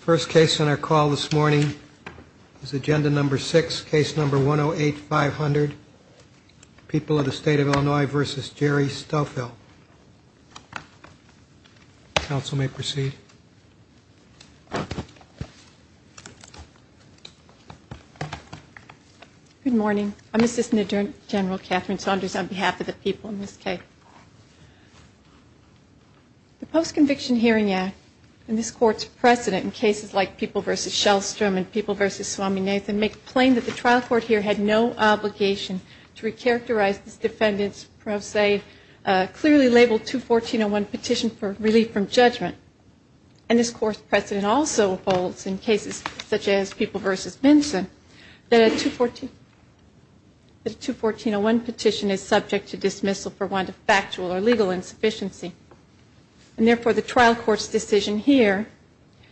First case on our call this morning is agenda number 6, case number 108-500, People of the State of Illinois v. Jerry Stoffel. Council may proceed. Good morning. I'm Assistant Attorney General Catherine Saunders on behalf of the people in this case. The Post-Conviction Hearing Act and this Court's precedent in cases like People v. Shellstrom and People v. Swami Nathan make plain that the trial court here had no obligation to re-characterize this defendant's pro se, clearly labeled 214-01 Petition for Relief from Judgment. And this Court's precedent also holds in cases such as People v. Benson that a 214-01 Petition is subject to dismissal for one to factual or legal insufficiency. And therefore the trial court's decision here,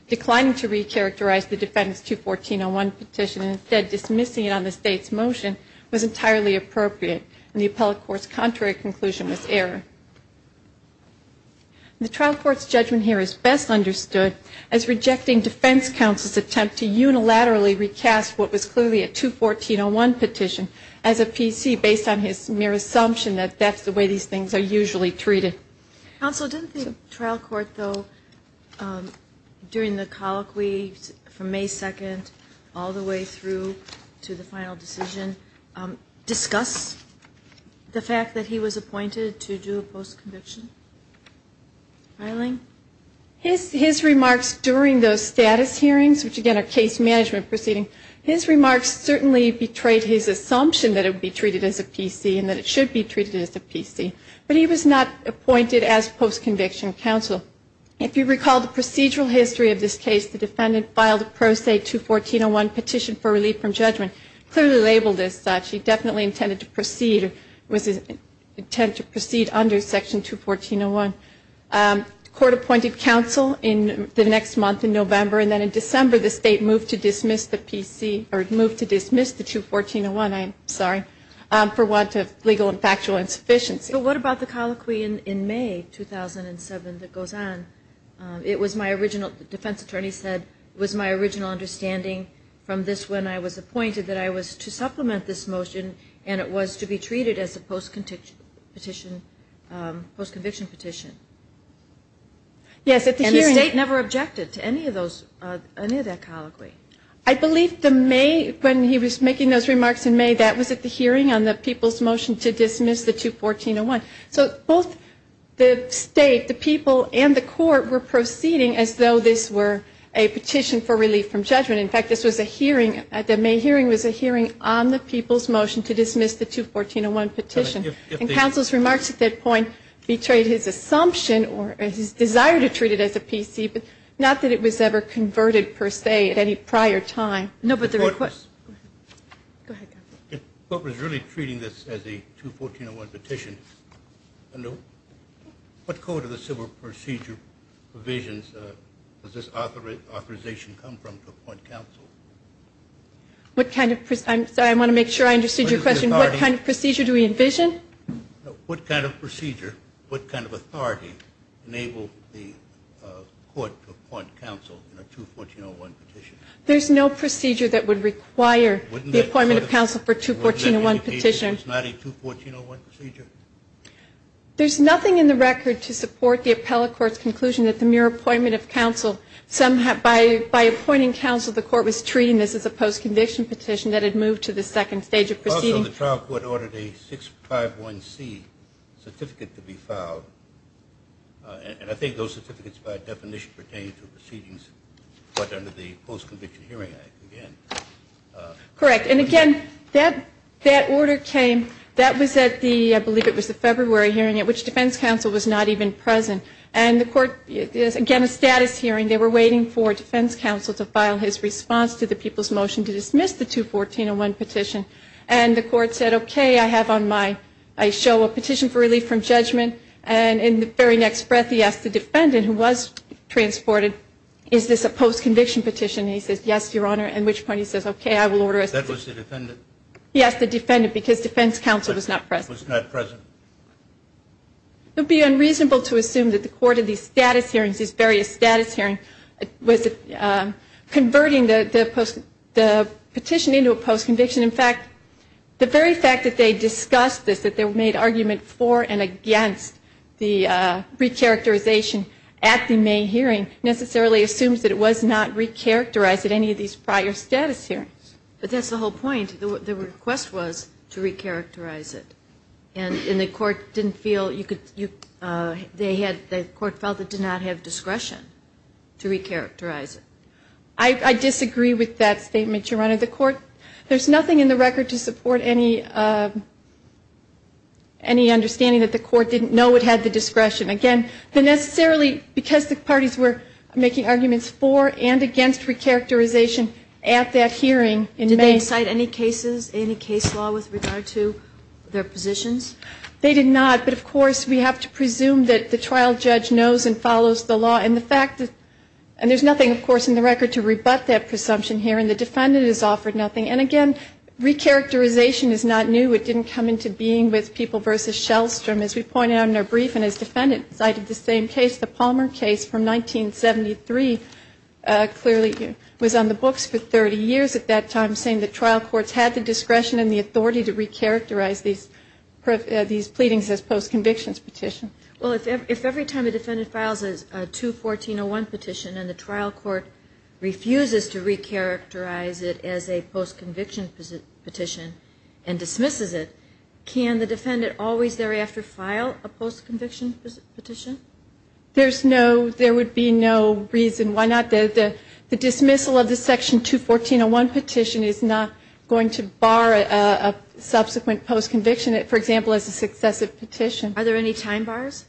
declining to re-characterize the defendant's 214-01 Petition and instead dismissing it on the State's motion, was entirely appropriate and the appellate court's contrary conclusion was error. The trial court's judgment here is best understood as rejecting defense counsel's attempt to unilaterally recast what was clearly a 214-01 Petition as a PC based on his mere assumption that that's the way these things are usually treated. Counsel, didn't the trial court though, during the colloquy from May 2nd all the way through to the final decision, discuss the fact that he was appointed to do a post-conviction filing? His remarks during those status hearings, which again are case management proceedings, his remarks certainly betrayed his assumption that it would be treated as a PC and that it should be treated as a PC. But he was not appointed as post-conviction counsel. If you recall the procedural history of this case, the defendant filed a pro se 214-01 Petition for Relief from Judgment, clearly labeled as such. He definitely intended to proceed under section 214-01. Court appointed counsel in the next month in November and then in December the State moved to dismiss the PC, or moved to dismiss the 214-01, I'm sorry, for want of legal and factual insufficiency. But what about the colloquy in May 2007 that goes on? It was my original, the defense attorney said, it was my original understanding from this when I was appointed that I was to supplement this motion and it was to be treated as a post-conviction petition. And the State never objected to any of that colloquy? I believe the May, when he was making those remarks in May, that was at the hearing on the people's motion to dismiss the 214-01. So both the State, the people, and the court were proceeding as though this were a petition for relief from judgment. In fact, this was a hearing, the May hearing was a hearing on the people's motion to dismiss the 214-01 petition. And counsel's remarks at that point betrayed his assumption or his desire to treat it as a PC, but not that it was ever converted per se at any prior time. No, but the request, go ahead. If the court was really treating this as a 214-01 petition, what code of the civil procedure provisions does this authorization come from to appoint counsel? I'm sorry, I want to make sure I understood your question. What kind of procedure do we envision? What kind of procedure, what kind of authority enabled the court to appoint counsel in a 214-01 petition? There's no procedure that would require the appointment of counsel for a 214-01 petition. It was not a 214-01 procedure? There's nothing in the record to support the appellate court's conclusion that the mere appointment of counsel, by appointing counsel, the court was treating this as a post-conviction petition that had moved to the second stage of proceeding. Also, the trial court ordered a 651C certificate to be filed. And I think those certificates, by definition, pertain to proceedings under the Post-Conviction Hearing Act, again. Correct. And, again, that order came, that was at the, I believe it was the February hearing at which defense counsel was not even present. And the court, again, a status hearing. They were waiting for defense counsel to file his response to the people's motion to dismiss the 214-01 petition. And the court said, okay, I have on my, I show a petition for relief from judgment. And in the very next breath, he asked the defendant, who was transported, is this a post-conviction petition? And he says, yes, Your Honor. At which point he says, okay, I will order it. That was the defendant? Yes, the defendant, because defense counsel was not present. Was not present. It would be unreasonable to assume that the court of these status hearings, these various status hearings, was converting the petition into a post-conviction. In fact, the very fact that they discussed this, that they made argument for and against the recharacterization at the May hearing, necessarily assumes that it was not recharacterized at any of these prior status hearings. But that's the whole point. The request was to recharacterize it. And the court didn't feel you could, they had, the court felt it did not have discretion to recharacterize it. I disagree with that statement, Your Honor. The court, there's nothing in the record to support any understanding that the court didn't know it had the discretion. Again, the necessarily, because the parties were making arguments for and against recharacterization at that hearing in May. Did they cite any cases, any case law with regard to their positions? They did not. But, of course, we have to presume that the trial judge knows and follows the law. And the fact that, and there's nothing, of course, in the record to rebut that presumption here. And the defendant is offered nothing. And, again, recharacterization is not new. It didn't come into being with People v. Shellstrom. As we pointed out in our brief and as defendant cited the same case, the Palmer case from 1973, clearly was on the books for 30 years at that time, saying the trial courts had the discretion and the authority to recharacterize these pleadings as post-convictions petitions. Well, if every time a defendant files a 214-01 petition and the trial court refuses to recharacterize it as a post-conviction petition and dismisses it, can the defendant always thereafter file a post-conviction petition? There's no, there would be no reason why not. The dismissal of the section 214-01 petition is not going to bar a subsequent post-conviction, for example, as a successive petition. Are there any time bars?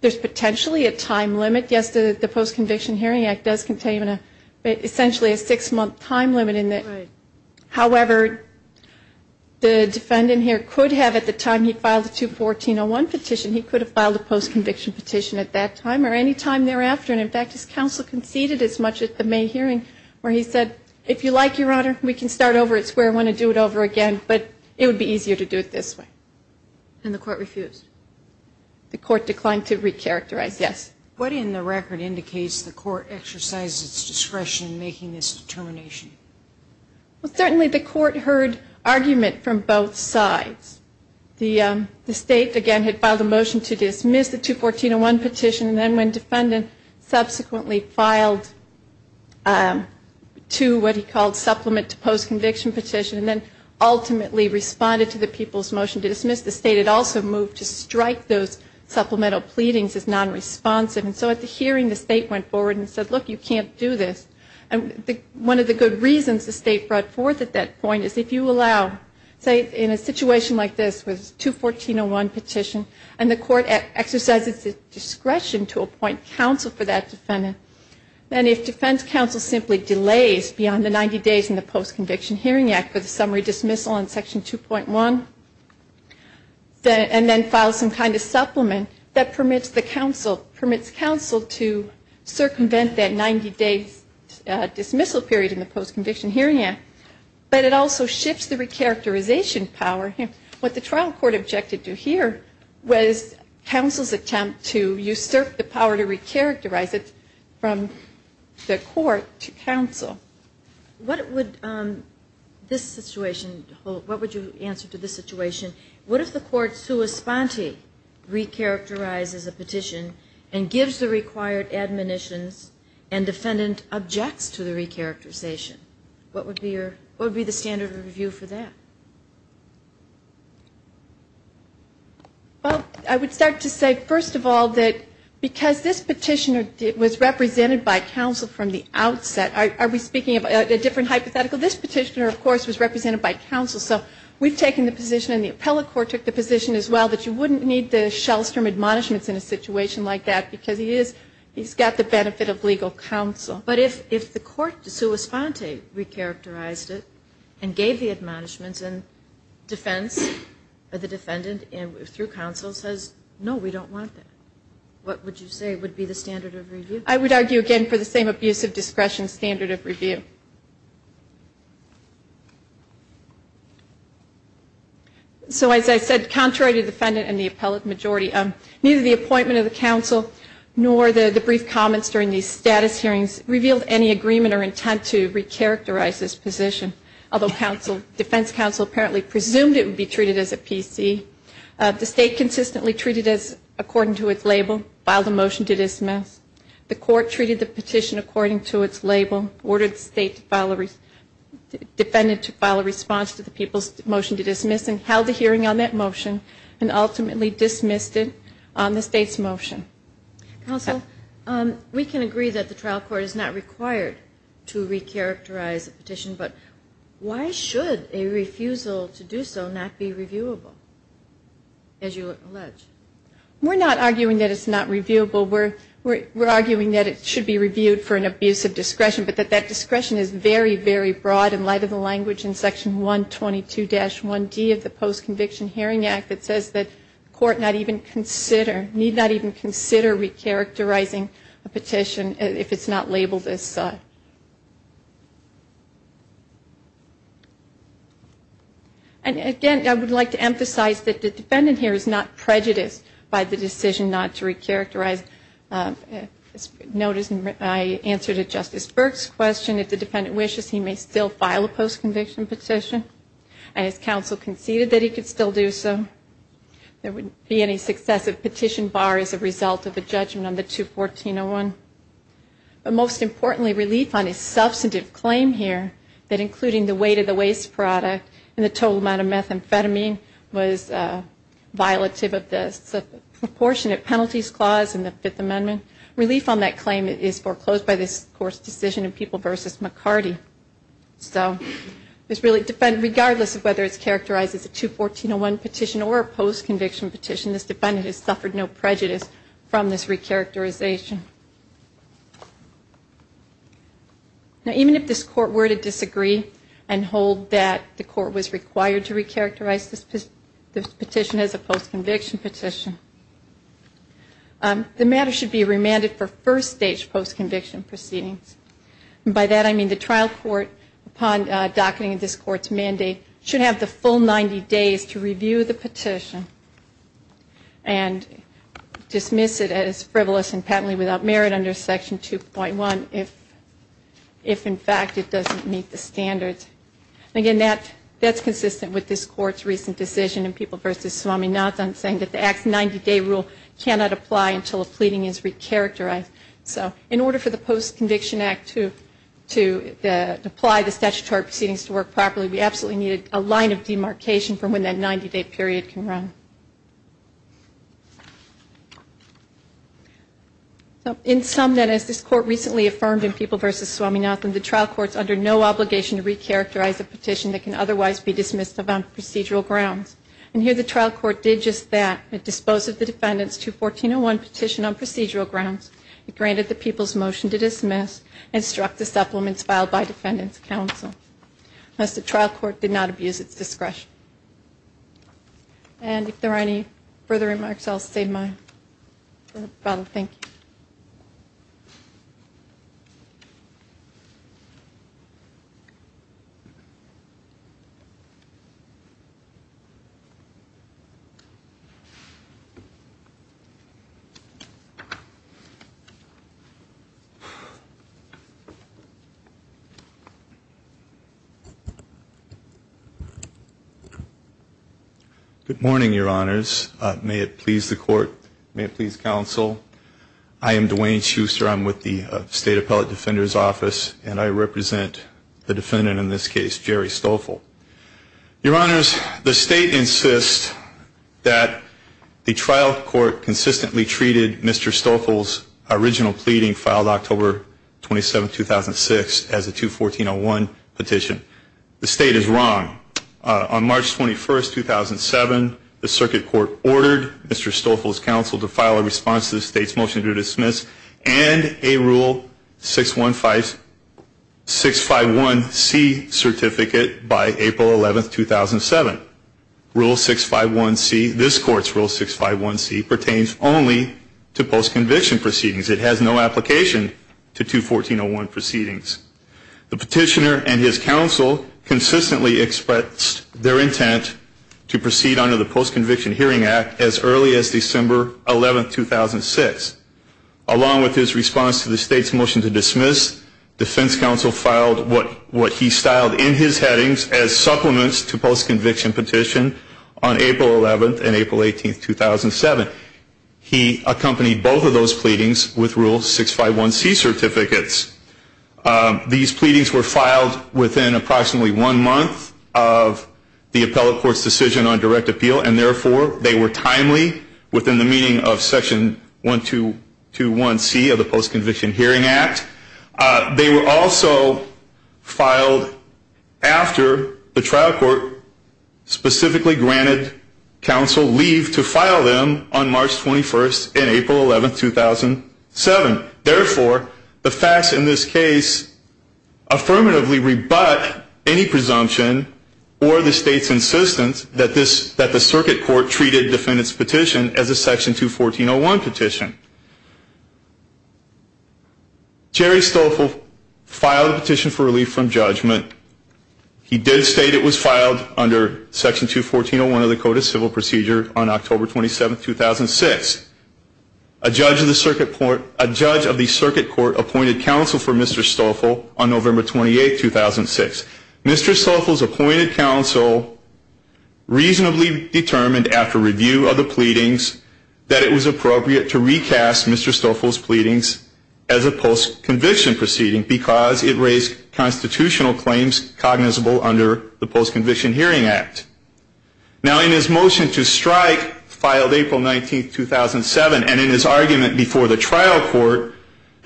There's potentially a time limit. Yes, the Post-Conviction Hearing Act does contain essentially a six-month time limit. However, the defendant here could have, at the time he filed the 214-01 petition, he could have filed a post-conviction petition at that time or any time thereafter. And, in fact, his counsel conceded as much at the May hearing where he said, if you like, Your Honor, we can start over at square one and do it over again, but it would be easier to do it this way. And the court refused? The court declined to recharacterize, yes. What in the record indicates the court exercised its discretion in making this determination? Well, certainly the court heard argument from both sides. The state, again, had filed a motion to dismiss the 214-01 petition, and then when defendant subsequently filed to what he called supplement to post-conviction petition and then ultimately responded to the people's motion to dismiss, the state had also moved to strike those supplemental pleadings as non-responsive. And so at the hearing, the state went forward and said, Look, you can't do this. And one of the good reasons the state brought forth at that point is if you allow, say, in a situation like this with 214-01 petition and the court exercises its discretion to appoint counsel for that defendant, then if defense counsel simply delays beyond the 90 days in the Post-Conviction Hearing Act for the summary dismissal on Section 2.1 and then files some kind of supplement, that permits counsel to circumvent that 90-day dismissal period in the Post-Conviction Hearing Act. But it also shifts the recharacterization power. What the trial court objected to here was counsel's attempt to usurp the power to recharacterize it from the court to counsel. What would this situation hold? What would you answer to this situation? What if the court sua sponte recharacterizes a petition and gives the required admonitions and defendant objects to the recharacterization? What would be the standard of review for that? Well, I would start to say, first of all, that because this petitioner was represented by counsel from the outset, are we speaking of a different hypothetical? This petitioner, of course, was represented by counsel. So we've taken the position, and the appellate court took the position as well, that you wouldn't need the Shellstrom admonishments in a situation like that because he's got the benefit of legal counsel. But if the court sua sponte recharacterized it and gave the admonishments and defense of the defendant through counsel says, no, we don't want that, what would you say would be the standard of review? I would argue, again, for the same abuse of discretion standard of review. So as I said, contrary to defendant and the appellate majority, neither the appointment of the counsel nor the brief comments during the status hearings revealed any agreement or intent to recharacterize this position, although defense counsel apparently presumed it would be treated as a PC. The state consistently treated it according to its label, filed a motion to dismiss. The court treated the petition according to its label, ordered the defendant to file a response to the people's motion to dismiss and held a hearing on that motion and ultimately dismissed it on the state's motion. Counsel, we can agree that the trial court is not required to recharacterize a petition, but why should a refusal to do so not be reviewable, as you allege? We're not arguing that it's not reviewable. We're arguing that it should be reviewed for an abuse of discretion, but that that discretion is very, very broad in light of the language in Section 122-1D of the Post-Conviction Hearing Act that says that the court need not even consider recharacterizing a petition if it's not labeled as such. And again, I would like to emphasize that the defendant here is not prejudiced by the decision not to recharacterize. As noted in my answer to Justice Burke's question, if the defendant wishes he may still file a post-conviction petition. And as counsel conceded that he could still do so, there wouldn't be any successive petition bar as a result of a judgment on the 214-01. But most importantly, relief on his substantive claim here that including the weight of the waste product and the total amount of methamphetamine was violative of the Proportionate Penalties Clause in the Fifth Amendment. Relief on that claim is foreclosed by this Court's decision in People v. McCarty. So regardless of whether it's characterized as a 214-01 petition or a post-conviction petition, this defendant has suffered no prejudice from this recharacterization. Even if this Court were to disagree and hold that the Court was required to recharacterize this petition as a post-conviction petition, the matter should be remanded for first-stage post-conviction proceedings. By that I mean the trial court, upon docketing of this Court's mandate, should have the full 90 days to review the petition and dismiss it as frivolous and patently without merit under Section 2.1 if, in fact, it doesn't meet the standards. Again, that's consistent with this Court's recent decision in People v. Swaminathan saying that the Act's 90-day rule cannot apply until a pleading is recharacterized. So in order for the Post-Conviction Act to apply the statutory proceedings to work properly, we absolutely needed a line of demarcation from when that 90-day period can run. In sum, then, as this Court recently affirmed in People v. Swaminathan, the trial court is under no obligation to recharacterize a petition that can otherwise be dismissed on procedural grounds. And here the trial court did just that. It disposed of the Defendant's 214.01 petition on procedural grounds, it granted the People's motion to dismiss, and struck the supplements filed by Defendant's counsel. Thus, the trial court did not abuse its discretion. And if there are any further remarks, I'll save mine. Thank you. Good morning, Your Honors. May it please the Court, may it please counsel, I am Dwayne Schuster. I'm with the State Appellate Defender's Office, and I represent the Defendant in this case, Jerry Stoffel. Your Honors, the State insists that the trial court consistently treated Mr. Stoffel's original pleading, filed October 27, 2006, as a 214.01 petition. The State is wrong. On March 21, 2007, the Circuit Court ordered Mr. Stoffel's counsel to file a response to the State's motion to dismiss, and a Rule 651C certificate by April 11, 2007. Rule 651C, this Court's Rule 651C, pertains only to post-conviction proceedings. It has no application to 214.01 proceedings. The petitioner and his counsel consistently expressed their intent to proceed under the Post-Conviction Hearing Act as early as December 11, 2006. Along with his response to the State's motion to dismiss, defense counsel filed what he styled in his headings as supplements to post-conviction petition on April 11 and April 18, 2007. He accompanied both of those pleadings with Rule 651C certificates. These pleadings were filed within approximately one month of the appellate court's decision on direct appeal, and therefore they were timely within the meaning of Section 1221C of the Post-Conviction Hearing Act. They were also filed after the trial court specifically granted counsel leave to file them on March 21 in April 11, 2007. Therefore, the facts in this case affirmatively rebut any presumption or the State's insistence that the circuit court treated defendant's petition as a Section 214.01 petition. Jerry Stoffel filed the petition for relief from judgment. He did state it was filed under Section 214.01 of the Code of Civil Procedure on October 27, 2006. A judge of the circuit court appointed counsel for Mr. Stoffel on November 28, 2006. Mr. Stoffel's appointed counsel reasonably determined after review of the pleadings that it was appropriate to recast Mr. Stoffel's pleadings as a post-conviction proceeding because it raised constitutional claims cognizable under the Post-Conviction Hearing Act. Now, in his motion to strike, filed April 19, 2007, and in his argument before the trial court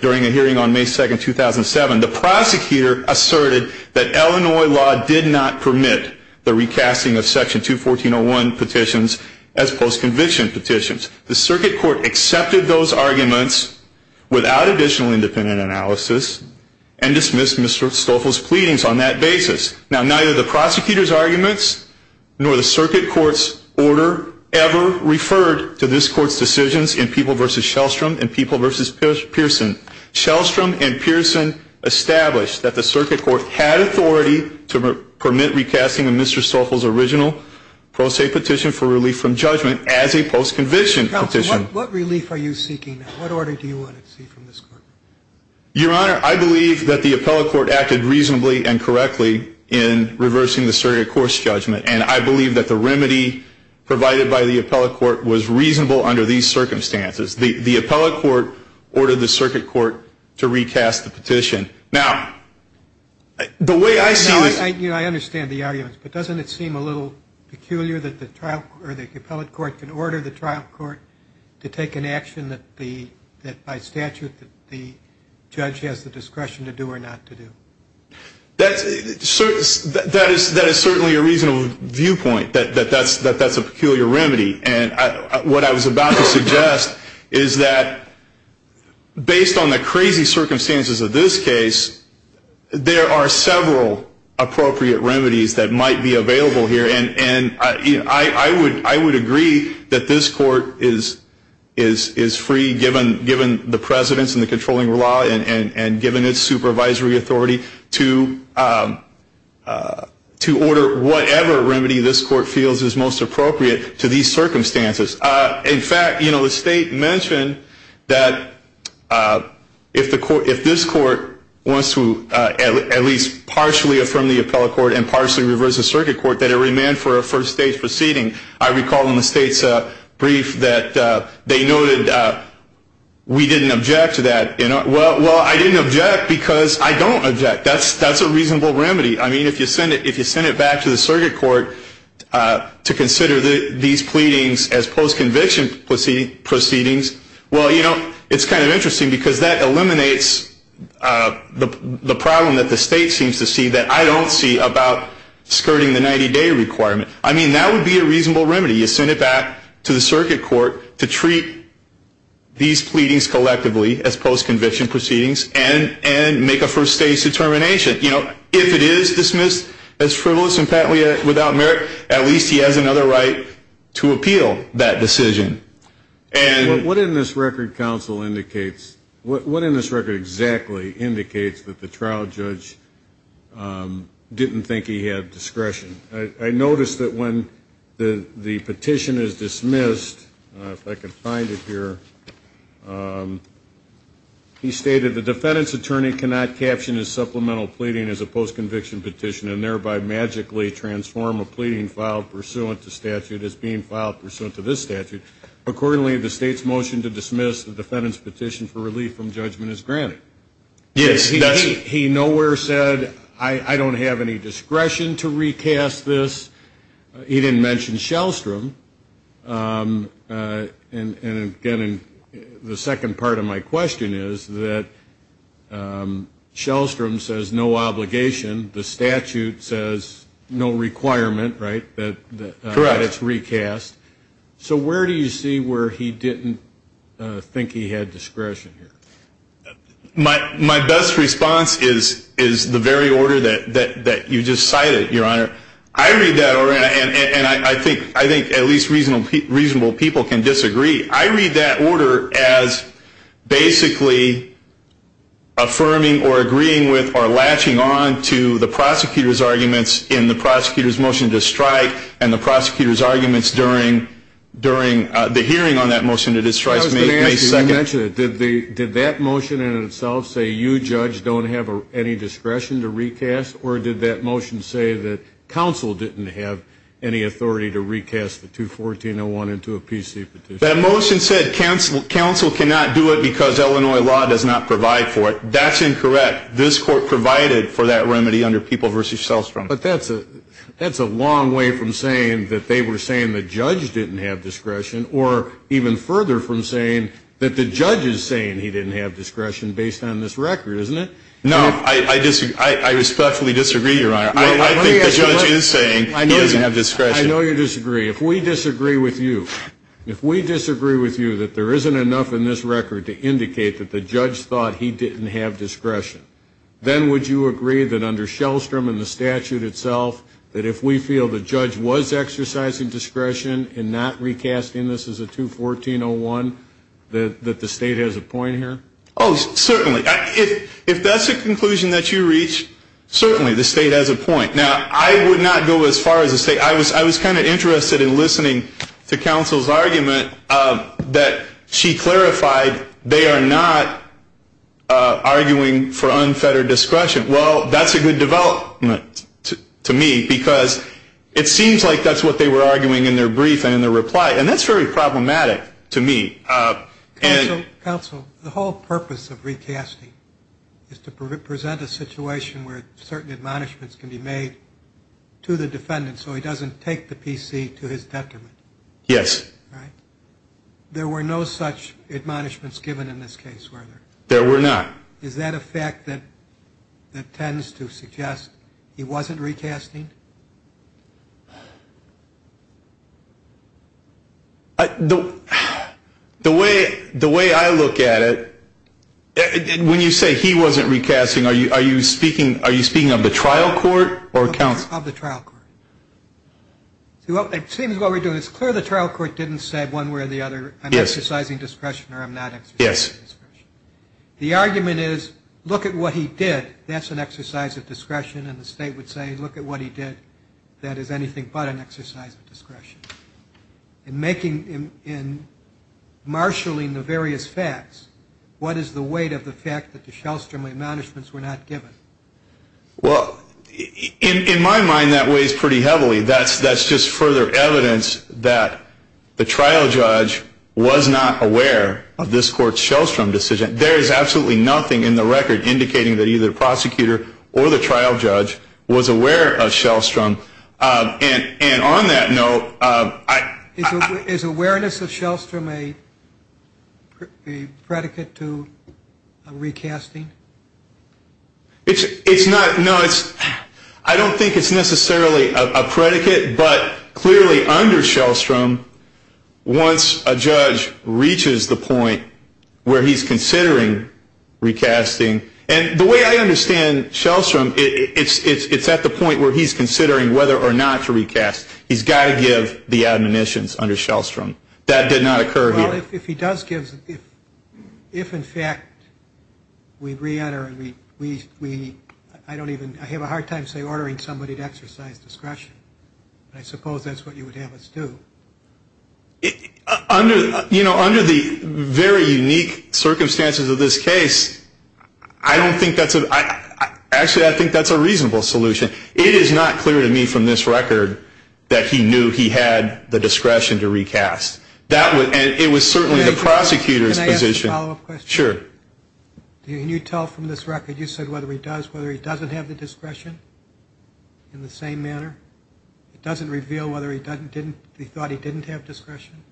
during a hearing on May 2, 2007, the prosecutor asserted that Illinois law did not permit the recasting of Section 214.01 petitions as post-conviction petitions. The circuit court accepted those arguments without additional independent analysis and dismissed Mr. Stoffel's pleadings on that basis. Now, neither the prosecutor's arguments nor the circuit court's order ever referred to this court's decisions in People v. Shellstrom and People v. Pearson. Shellstrom and Pearson established that the circuit court had authority to permit recasting of Mr. Stoffel's original pro se petition for relief from judgment as a post-conviction petition. Counsel, what relief are you seeking? What order do you want to see from this court? Your Honor, I believe that the appellate court acted reasonably and correctly in reversing the circuit court's judgment, and I believe that the remedy provided by the appellate court was reasonable under these circumstances. The appellate court ordered the circuit court to recast the petition. Now, the way I see this... Your Honor, I understand the arguments, but doesn't it seem a little peculiar that the appellate court can order the trial court to take an action that by statute the judge has the discretion to do or not to do? That is certainly a reasonable viewpoint, that that's a peculiar remedy. And what I was about to suggest is that based on the crazy circumstances of this case, there are several appropriate remedies that might be available here. And I would agree that this court is free, given the precedence in the controlling law and given its supervisory authority, to order whatever remedy this court feels is most appropriate to these circumstances. In fact, the State mentioned that if this court wants to at least partially affirm the appellate court and partially reverse the circuit court, that it remain for a first-stage proceeding. I recall in the State's brief that they noted, we didn't object to that. Well, I didn't object because I don't object. That's a reasonable remedy. I mean, if you send it back to the circuit court to consider these pleadings as post-conviction proceedings, well, you know, it's kind of interesting because that eliminates the problem that the State seems to see that I don't see about skirting the 90-day requirement. I mean, that would be a reasonable remedy. You send it back to the circuit court to treat these pleadings collectively as post-conviction proceedings and make a first-stage determination. You know, if it is dismissed as frivolous and patently without merit, at least he has another right to appeal that decision. What in this record, counsel, indicates, what in this record exactly indicates that the trial judge didn't think he had discretion? I noticed that when the petition is dismissed, if I can find it here, he stated, the defendant's attorney cannot caption his supplemental pleading as a post-conviction petition and thereby magically transform a pleading filed pursuant to statute as being filed pursuant to this statute. Accordingly, the State's motion to dismiss the defendant's petition for relief from judgment is granted. Yes, that's it. He nowhere said, I don't have any discretion to recast this. He didn't mention Shellstrom. And, again, the second part of my question is that Shellstrom says no obligation. The statute says no requirement, right, that it's recast. Correct. So where do you see where he didn't think he had discretion here? My best response is the very order that you just cited, Your Honor. I read that order, and I think at least reasonable people can disagree. I read that order as basically affirming or agreeing with or latching on to the prosecutor's arguments in the prosecutor's motion to strike and the prosecutor's arguments during the hearing on that motion to strike May 2nd. I was going to ask you, you mentioned it. Did that motion in itself say you, judge, don't have any discretion to recast, or did that motion say that counsel didn't have any authority to recast the 214-01 into a PC petition? That motion said counsel cannot do it because Illinois law does not provide for it. That's incorrect. This court provided for that remedy under People v. Shellstrom. But that's a long way from saying that they were saying the judge didn't have discretion or even further from saying that the judge is saying he didn't have discretion based on this record, isn't it? No, I respectfully disagree, Your Honor. I think the judge is saying he doesn't have discretion. I know you disagree. If we disagree with you, if we disagree with you that there isn't enough in this record to indicate that the judge thought he didn't have discretion, then would you agree that under Shellstrom and the statute itself, that if we feel the judge was exercising discretion in not recasting this as a 214-01, that the State has a point here? Oh, certainly. If that's a conclusion that you reach, certainly the State has a point. Now, I would not go as far as to say I was kind of interested in listening to counsel's argument that she clarified they are not arguing for unfettered discretion. Well, that's a good development to me because it seems like that's what they were arguing in their brief and in their reply, and that's very problematic to me. Counsel, the whole purpose of recasting is to present a situation where certain admonishments can be made to the defendant so he doesn't take the PC to his detriment. Yes. Right? There were no such admonishments given in this case, were there? There were not. Is that a fact that tends to suggest he wasn't recasting? The way I look at it, when you say he wasn't recasting, are you speaking of the trial court or counsel? Of the trial court. It seems what we're doing, it's clear the trial court didn't say one way or the other, I'm exercising discretion or I'm not exercising discretion. Yes. The argument is, look at what he did. That's an exercise of discretion, and the State would say, look at what he did. That is anything but an exercise of discretion. In marshalling the various facts, what is the weight of the fact that the Shellstrom admonishments were not given? Well, in my mind, that weighs pretty heavily. That's just further evidence that the trial judge was not aware of this court's Shellstrom decision. There is absolutely nothing in the record indicating that either the prosecutor or the trial judge was aware of Shellstrom. And on that note, I — Is awareness of Shellstrom a predicate to a recasting? It's not. No, it's — I don't think it's necessarily a predicate. But clearly under Shellstrom, once a judge reaches the point where he's considering recasting, and the way I understand Shellstrom, it's at the point where he's considering whether or not to recast. He's got to give the admonitions under Shellstrom. That did not occur here. Well, if he does give — if, in fact, we re-enter and we — I don't even — I have a hard time, say, ordering somebody to exercise discretion. I suppose that's what you would have us do. Under — you know, under the very unique circumstances of this case, I don't think that's a — actually, I think that's a reasonable solution. It is not clear to me from this record that he knew he had the discretion to recast. That would — and it was certainly the prosecutor's position. Can I ask a follow-up question? Sure. Can you tell from this record, you said, whether he does, whether he doesn't have the discretion in the same manner? It doesn't reveal whether he didn't — he thought he didn't have discretion?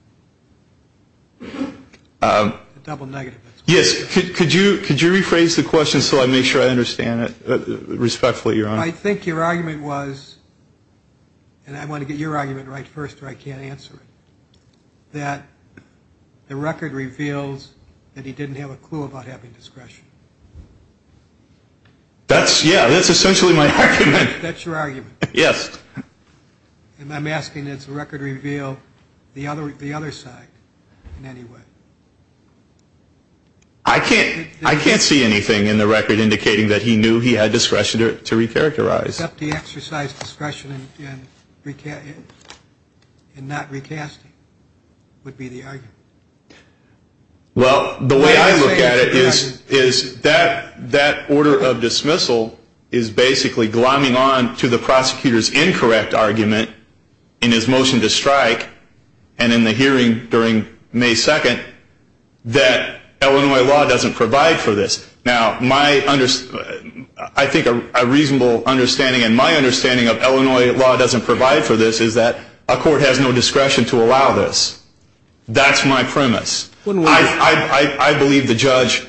A double negative. Yes. Could you rephrase the question so I make sure I understand it respectfully, Your Honor? I think your argument was — and I want to get your argument right first or I can't answer it — that the record reveals that he didn't have a clue about having discretion. That's — yeah, that's essentially my argument. That's your argument. Yes. And I'm asking, does the record reveal the other side in any way? I can't see anything in the record indicating that he knew he had discretion to recharacterize. Except he exercised discretion in not recasting would be the argument. Well, the way I look at it is that order of dismissal is basically glomming on to the prosecutor's incorrect argument in his motion to strike. And in the hearing during May 2nd, that Illinois law doesn't provide for this. Now, my — I think a reasonable understanding and my understanding of Illinois law doesn't provide for this is that a court has no discretion to allow this. That's my premise. I believe the judge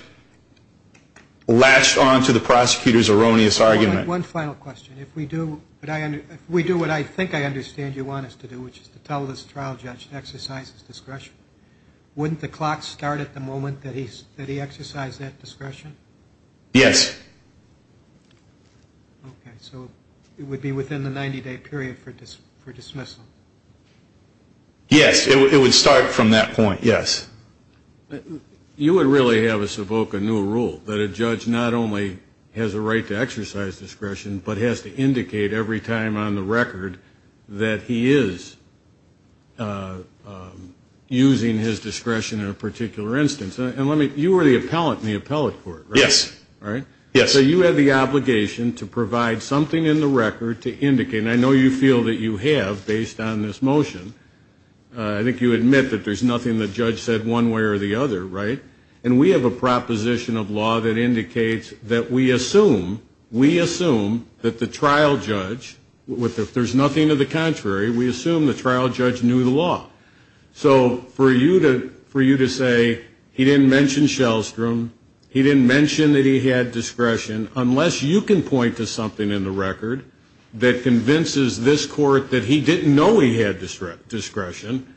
latched on to the prosecutor's erroneous argument. One final question. If we do what I think I understand you want us to do, which is to tell this trial judge to exercise his discretion, wouldn't the clock start at the moment that he exercised that discretion? Yes. Okay. So it would be within the 90-day period for dismissal? Yes. It would start from that point, yes. You would really have us evoke a new rule, that a judge not only has a right to exercise discretion but has to indicate every time on the record that he is using his discretion in a particular instance. And let me — you were the appellant in the appellate court, right? Yes. Right? Yes. So you had the obligation to provide something in the record to indicate — and I know you feel that you have based on this motion. I think you admit that there's nothing the judge said one way or the other, right? And we have a proposition of law that indicates that we assume that the trial judge, if there's nothing of the contrary, we assume the trial judge knew the law. So for you to say he didn't mention Shellstrom, he didn't mention that he had discretion, unless you can point to something in the record that convinces this court that he didn't know he had discretion,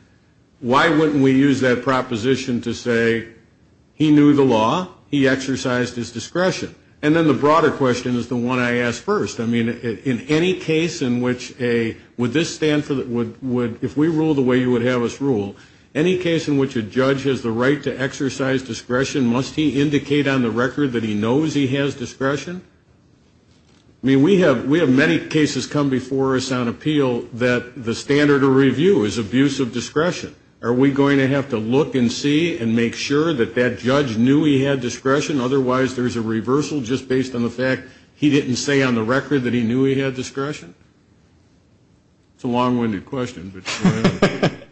why wouldn't we use that proposition to say he knew the law, he exercised his discretion? And then the broader question is the one I asked first. I mean, in any case in which a — would this stand for — if we rule the way you would have us rule, any case in which a judge has the right to exercise discretion, must he indicate on the record that he knows he has discretion? I mean, we have many cases come before us on appeal that the standard of review is abuse of discretion. Are we going to have to look and see and make sure that that judge knew he had discretion, otherwise there's a reversal just based on the fact he didn't say on the record that he knew he had discretion? It's a long-winded question, but go ahead.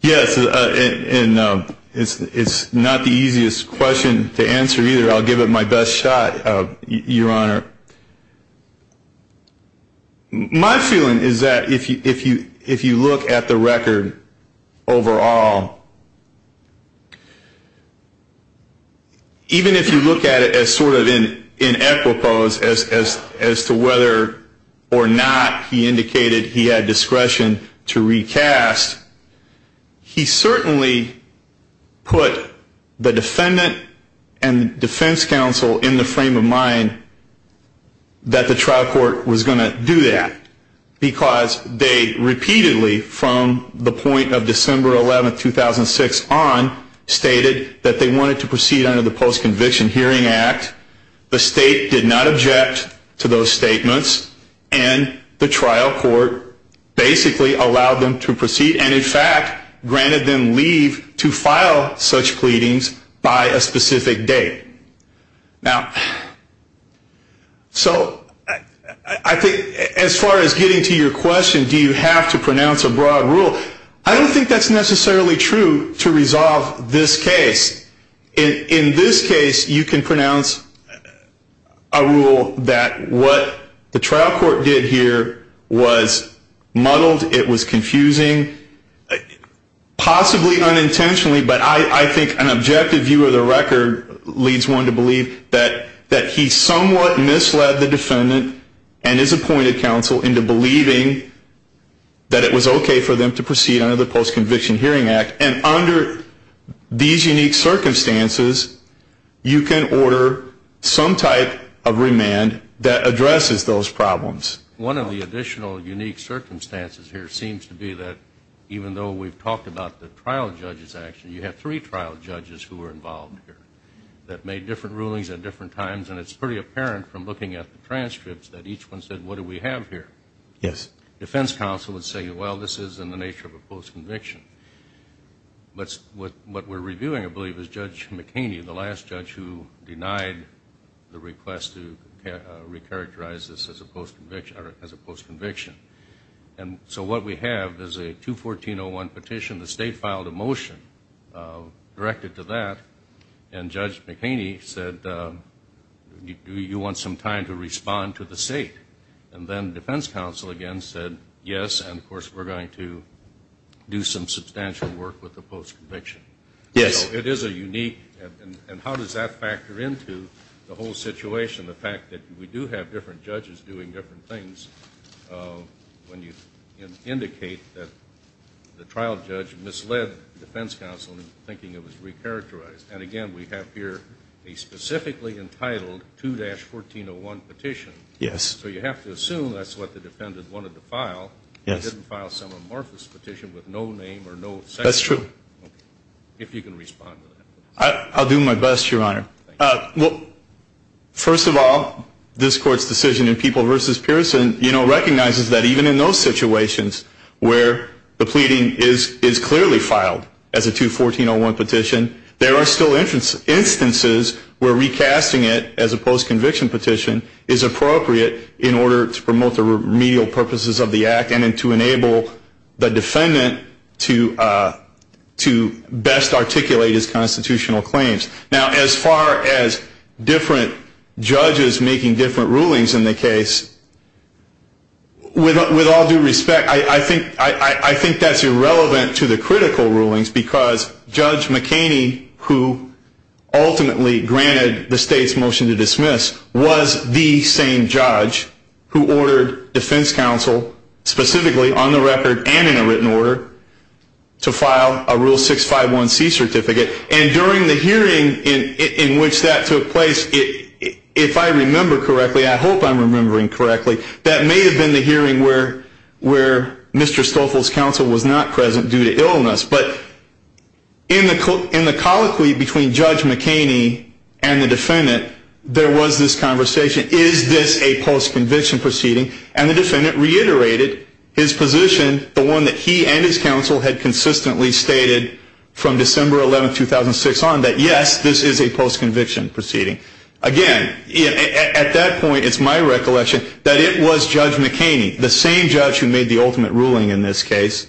Yes, and it's not the easiest question to answer either. I'll give it my best shot, Your Honor. My feeling is that if you look at the record overall, even if you look at it as sort of in equipoise as to whether or not he indicated he had discretion to recast, he certainly put the defendant and defense counsel in the frame of mind that the trial court was going to do that, because they repeatedly, from the point of December 11, 2006 on, stated that they wanted to proceed under the Post-Conviction Hearing Act. The state did not object to those statements, and the trial court basically allowed them to proceed and, in fact, granted them leave to file such pleadings by a specific date. Now, so I think as far as getting to your question, do you have to pronounce a broad rule, I don't think that's necessarily true to resolve this case. In this case, you can pronounce a rule that what the trial court did here was muddled, it was confusing, possibly unintentionally, but I think an objective view of the record leads one to believe that he somewhat misled the defendant and his appointed counsel into believing that it was okay for them to proceed under the Post-Conviction Hearing Act, and under these unique circumstances, you can order some type of remand that addresses those problems. One of the additional unique circumstances here seems to be that even though we've talked about the trial judge's action, you have three trial judges who were involved here that made different rulings at different times, and it's pretty apparent from looking at the transcripts that each one said, what do we have here? Defense counsel would say, well, this is in the nature of a post-conviction. But what we're reviewing, I believe, is Judge McHaney, the last judge who denied the request to recharacterize this as a post-conviction. And so what we have is a 214-01 petition, the state filed a motion directed to that, and Judge McHaney said, do you want some time to respond to the state? And then defense counsel again said, yes, and of course we're going to do some substantial work with the post-conviction. So it is a unique, and how does that factor into the whole situation, the fact that we do have different judges doing different things, when you indicate that the trial judge misled defense counsel in thinking it was recharacterized. And again, we have here a specifically entitled 2-1401 petition. So you have to assume that's what the defendant wanted to file. He didn't file some amorphous petition with no name or no section. That's true. If you can respond to that. I'll do my best, Your Honor. First of all, this Court's decision in People v. Pearson recognizes that even in those situations where the pleading is clearly filed as a 214-01 petition, there are still instances where recasting it as a post-conviction petition is appropriate in order to promote the remedial purposes of the act and to enable the defendant to best articulate his constitutional claims. Now, as far as different judges making different rulings in the case, with all due respect, I think that's irrelevant to the critical rulings because Judge McHaney, who ultimately granted the state's motion to dismiss, was the same judge who ordered defense counsel, specifically on the record and in a written order, to file a Rule 651C certificate. And during the hearing in which that took place, if I remember correctly, I hope I'm remembering correctly, that may have been the hearing where Mr. Stoffel's counsel was not present due to illness. But in the colloquy between Judge McHaney and the defendant, there was this conversation, is this a post-conviction proceeding? And the defendant reiterated his position, the one that he and his counsel had consistently stated from December 11, 2006 on, that yes, this is a post-conviction proceeding. Again, at that point, it's my recollection that it was Judge McHaney, the same judge who made the ultimate ruling in this case,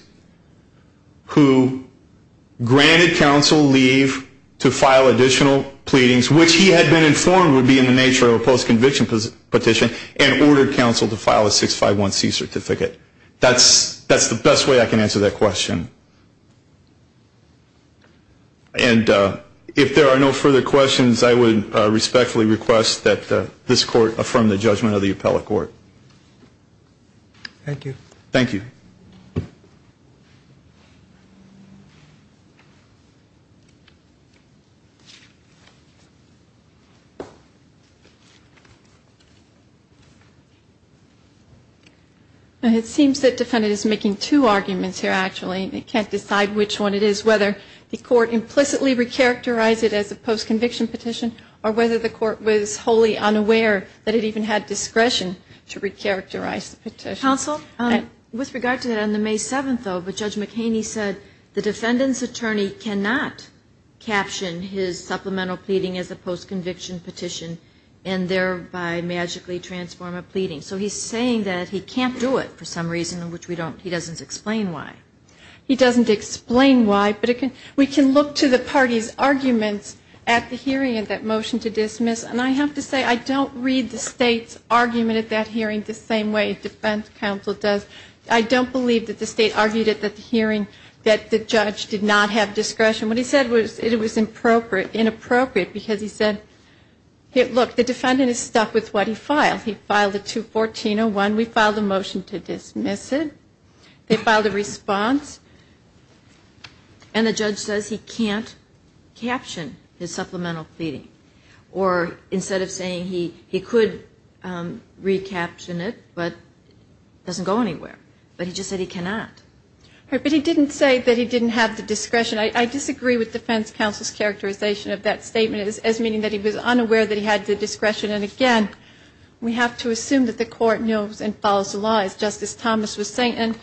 who granted counsel leave to file additional pleadings, which he had been informed would be in the nature of a post-conviction petition, and ordered counsel to file a 651C certificate. That's the best way I can answer that question. And if there are no further questions, I would respectfully request that this court affirm the judgment of the appellate court. Thank you. Thank you. It seems that the defendant is making two arguments here, actually, and he can't decide which one it is, whether the court implicitly recharacterized it as a post-conviction petition, or whether the court was wholly unaware that it even had discretion to recharacterize the petition. Counsel, with regard to that, on the May 7th, though, Judge McHaney said the defendant's attorney cannot caption his supplemental pleading as a post-conviction petition, and thereby magically transform a pleading. So he's saying that he can't do it for some reason, which we don't he doesn't explain why. But we can look to the parties' arguments at the hearing of that motion to dismiss, and I have to say, I don't read the state's argument at that hearing the same way defense counsel does. I don't believe that the state argued at the hearing that the judge did not have discretion. What he said was it was inappropriate, because he said, look, the defendant is stuck with what he filed. He filed a 214-01, we filed a motion to dismiss it, they filed a response, and the judge says he can't caption his supplemental pleading. Or instead of saying he could recaption it, but it doesn't go anywhere. But he just said he cannot. But he didn't say that he didn't have the discretion. I disagree with defense counsel's characterization of that statement as meaning that he was And we have to assume that the court knows and follows the law, as Justice Thomas was saying. And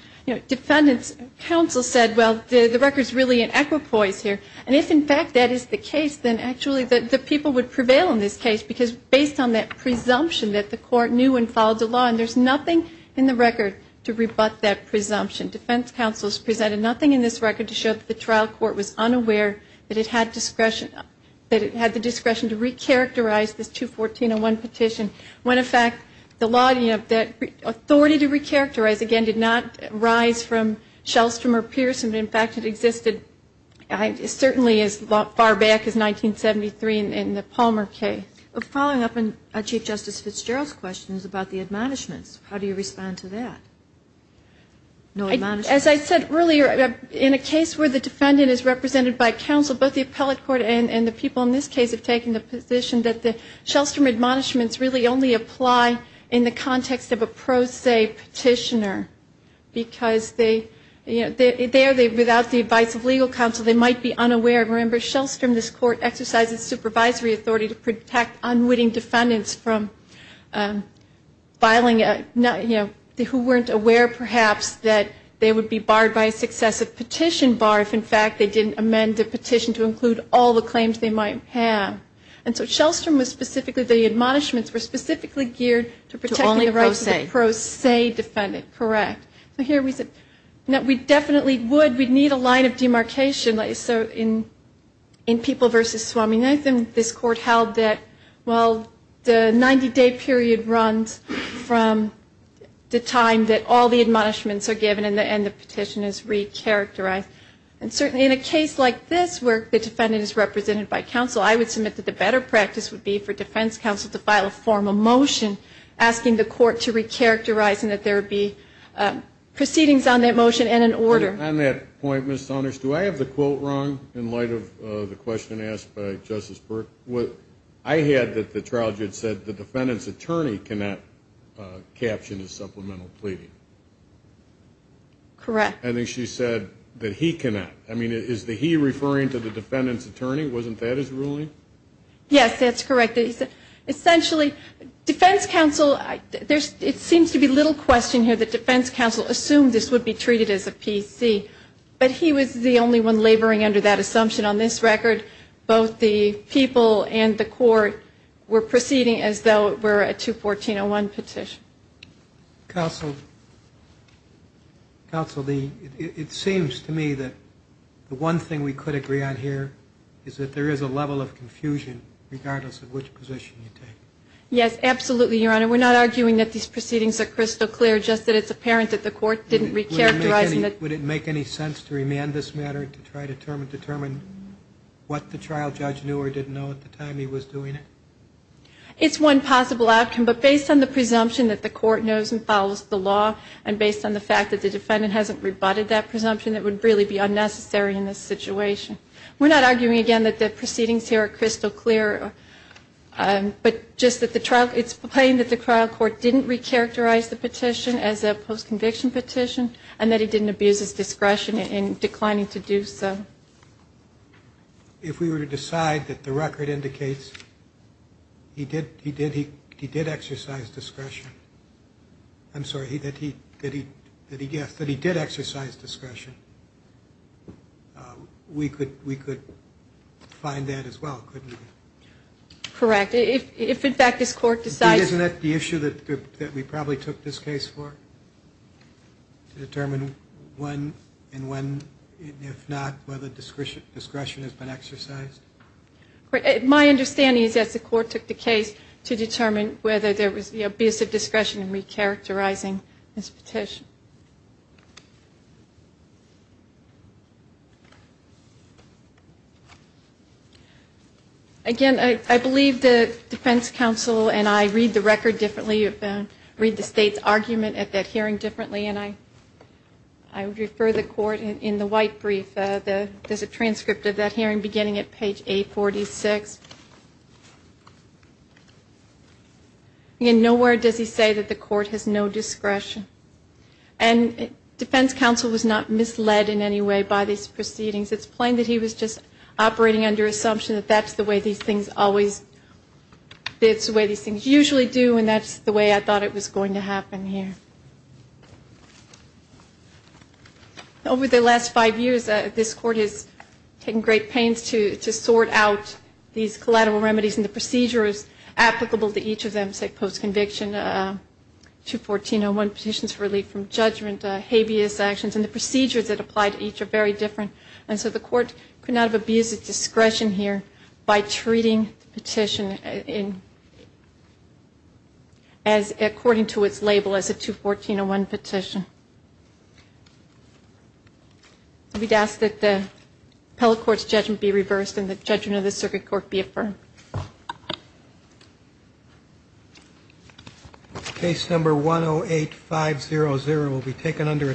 defendant's counsel said, well, the record's really in equipoise here. And if, in fact, that is the case, then actually the people would prevail in this case, because based on that presumption that the court knew and followed the law, and there's nothing in the record to rebut that presumption. Defense counsel has presented nothing in this record to show that the trial court was unaware that it had the discretion to recharacterize this 214-01 petition, when, in fact, the authority to recharacterize, again, did not rise from Shellstrom or Pearson. In fact, it existed certainly as far back as 1973 in the Palmer case. Following up on Chief Justice Fitzgerald's questions about the admonishments, how do you respond to that? As I said earlier, in a case where the defendant is represented by counsel, both the appellate court and the people in this case have taken the position that the Shellstrom admonishments really only apply in the context of a pro se petitioner, because there, without the advice of legal counsel, they might be unaware. Remember, Shellstrom, this court, exercised its supervisory authority to protect unwitting defendants from filing a, you know, who weren't aware before the case was filed. They weren't aware, perhaps, that they would be barred by a successive petition bar if, in fact, they didn't amend the petition to include all the claims they might have. And so Shellstrom was specifically, the admonishments were specifically geared to protect the rights of the pro se defendant. Correct. So here we said, no, we definitely would, we'd need a line of demarcation. So in People v. Swami Nathan, this court held that, well, the 90-day period runs from the time that all the admonishments were given and the petition is recharacterized. And certainly in a case like this where the defendant is represented by counsel, I would submit that the better practice would be for defense counsel to file a formal motion asking the court to recharacterize and that there would be proceedings on that motion and an order. On that point, Ms. Soners, do I have the quote wrong in light of the question asked by Justice Burke? I had that the trial judge said the defendant's attorney cannot caption a supplemental pleading. Correct. I think she said that he cannot. I mean, is the he referring to the defendant's attorney? Wasn't that his ruling? Yes, that's correct. Essentially, defense counsel, it seems to be little question here that defense counsel assumed this would be treated as a PC. But he was the only one laboring under that assumption. On this record, both the people and the court were proceeding as though it were a 214-01 petition. Counsel, it seems to me that the one thing we could agree on here is that there is a level of confusion regardless of which position you take. Yes, absolutely, Your Honor. We're not arguing that these proceedings are crystal clear, just that it's apparent that the court didn't recharacterize the petition as a post-conviction petition, and that the trial judge didn't know what the trial judge knew or didn't know at the time he was doing it. It's one possible outcome, but based on the presumption that the court knows and follows the law, and based on the fact that the defendant hasn't rebutted that presumption, it would really be unnecessary in this situation. We're not arguing, again, that the proceedings here are crystal clear, but just that it's plain that the trial court didn't recharacterize the petition as a post-conviction petition, and that he didn't abuse his discretion in declining to do so. If we were to decide that the record indicates that he did exercise discretion, we could find that as well, couldn't we? Correct. To determine when and when, if not, whether discretion has been exercised? My understanding is that the court took the case to determine whether there was abusive discretion in recharacterizing this petition. Again, I believe the defense counsel and I read the record differently, read the state's argument at that hearing differently, and I would refer the court in the white brief. There's a transcript of that hearing beginning at page 846. Again, nowhere does he say that the court has no discretion. And defense counsel was not misled in any way by these proceedings. It's plain that he was just operating under assumption that that's the way these things always, it's the way these things usually do, and that's the way I thought it was going to happen here. Over the last five years, this court has taken great pains to sort out these collateral remedies, and the procedure is applicable to each of them, say, post-conviction, 214-01, petitions for relief from judgment, habeas actions, and the procedures that apply to each are very different. And so the court could not have abused its discretion here by treating the petition as, according to its label, as a 214-01 petition. We'd ask that the appellate court's judgment be reversed and the judgment of the circuit court be affirmed. Case number 108-500 will be taken under a ten-minute recess.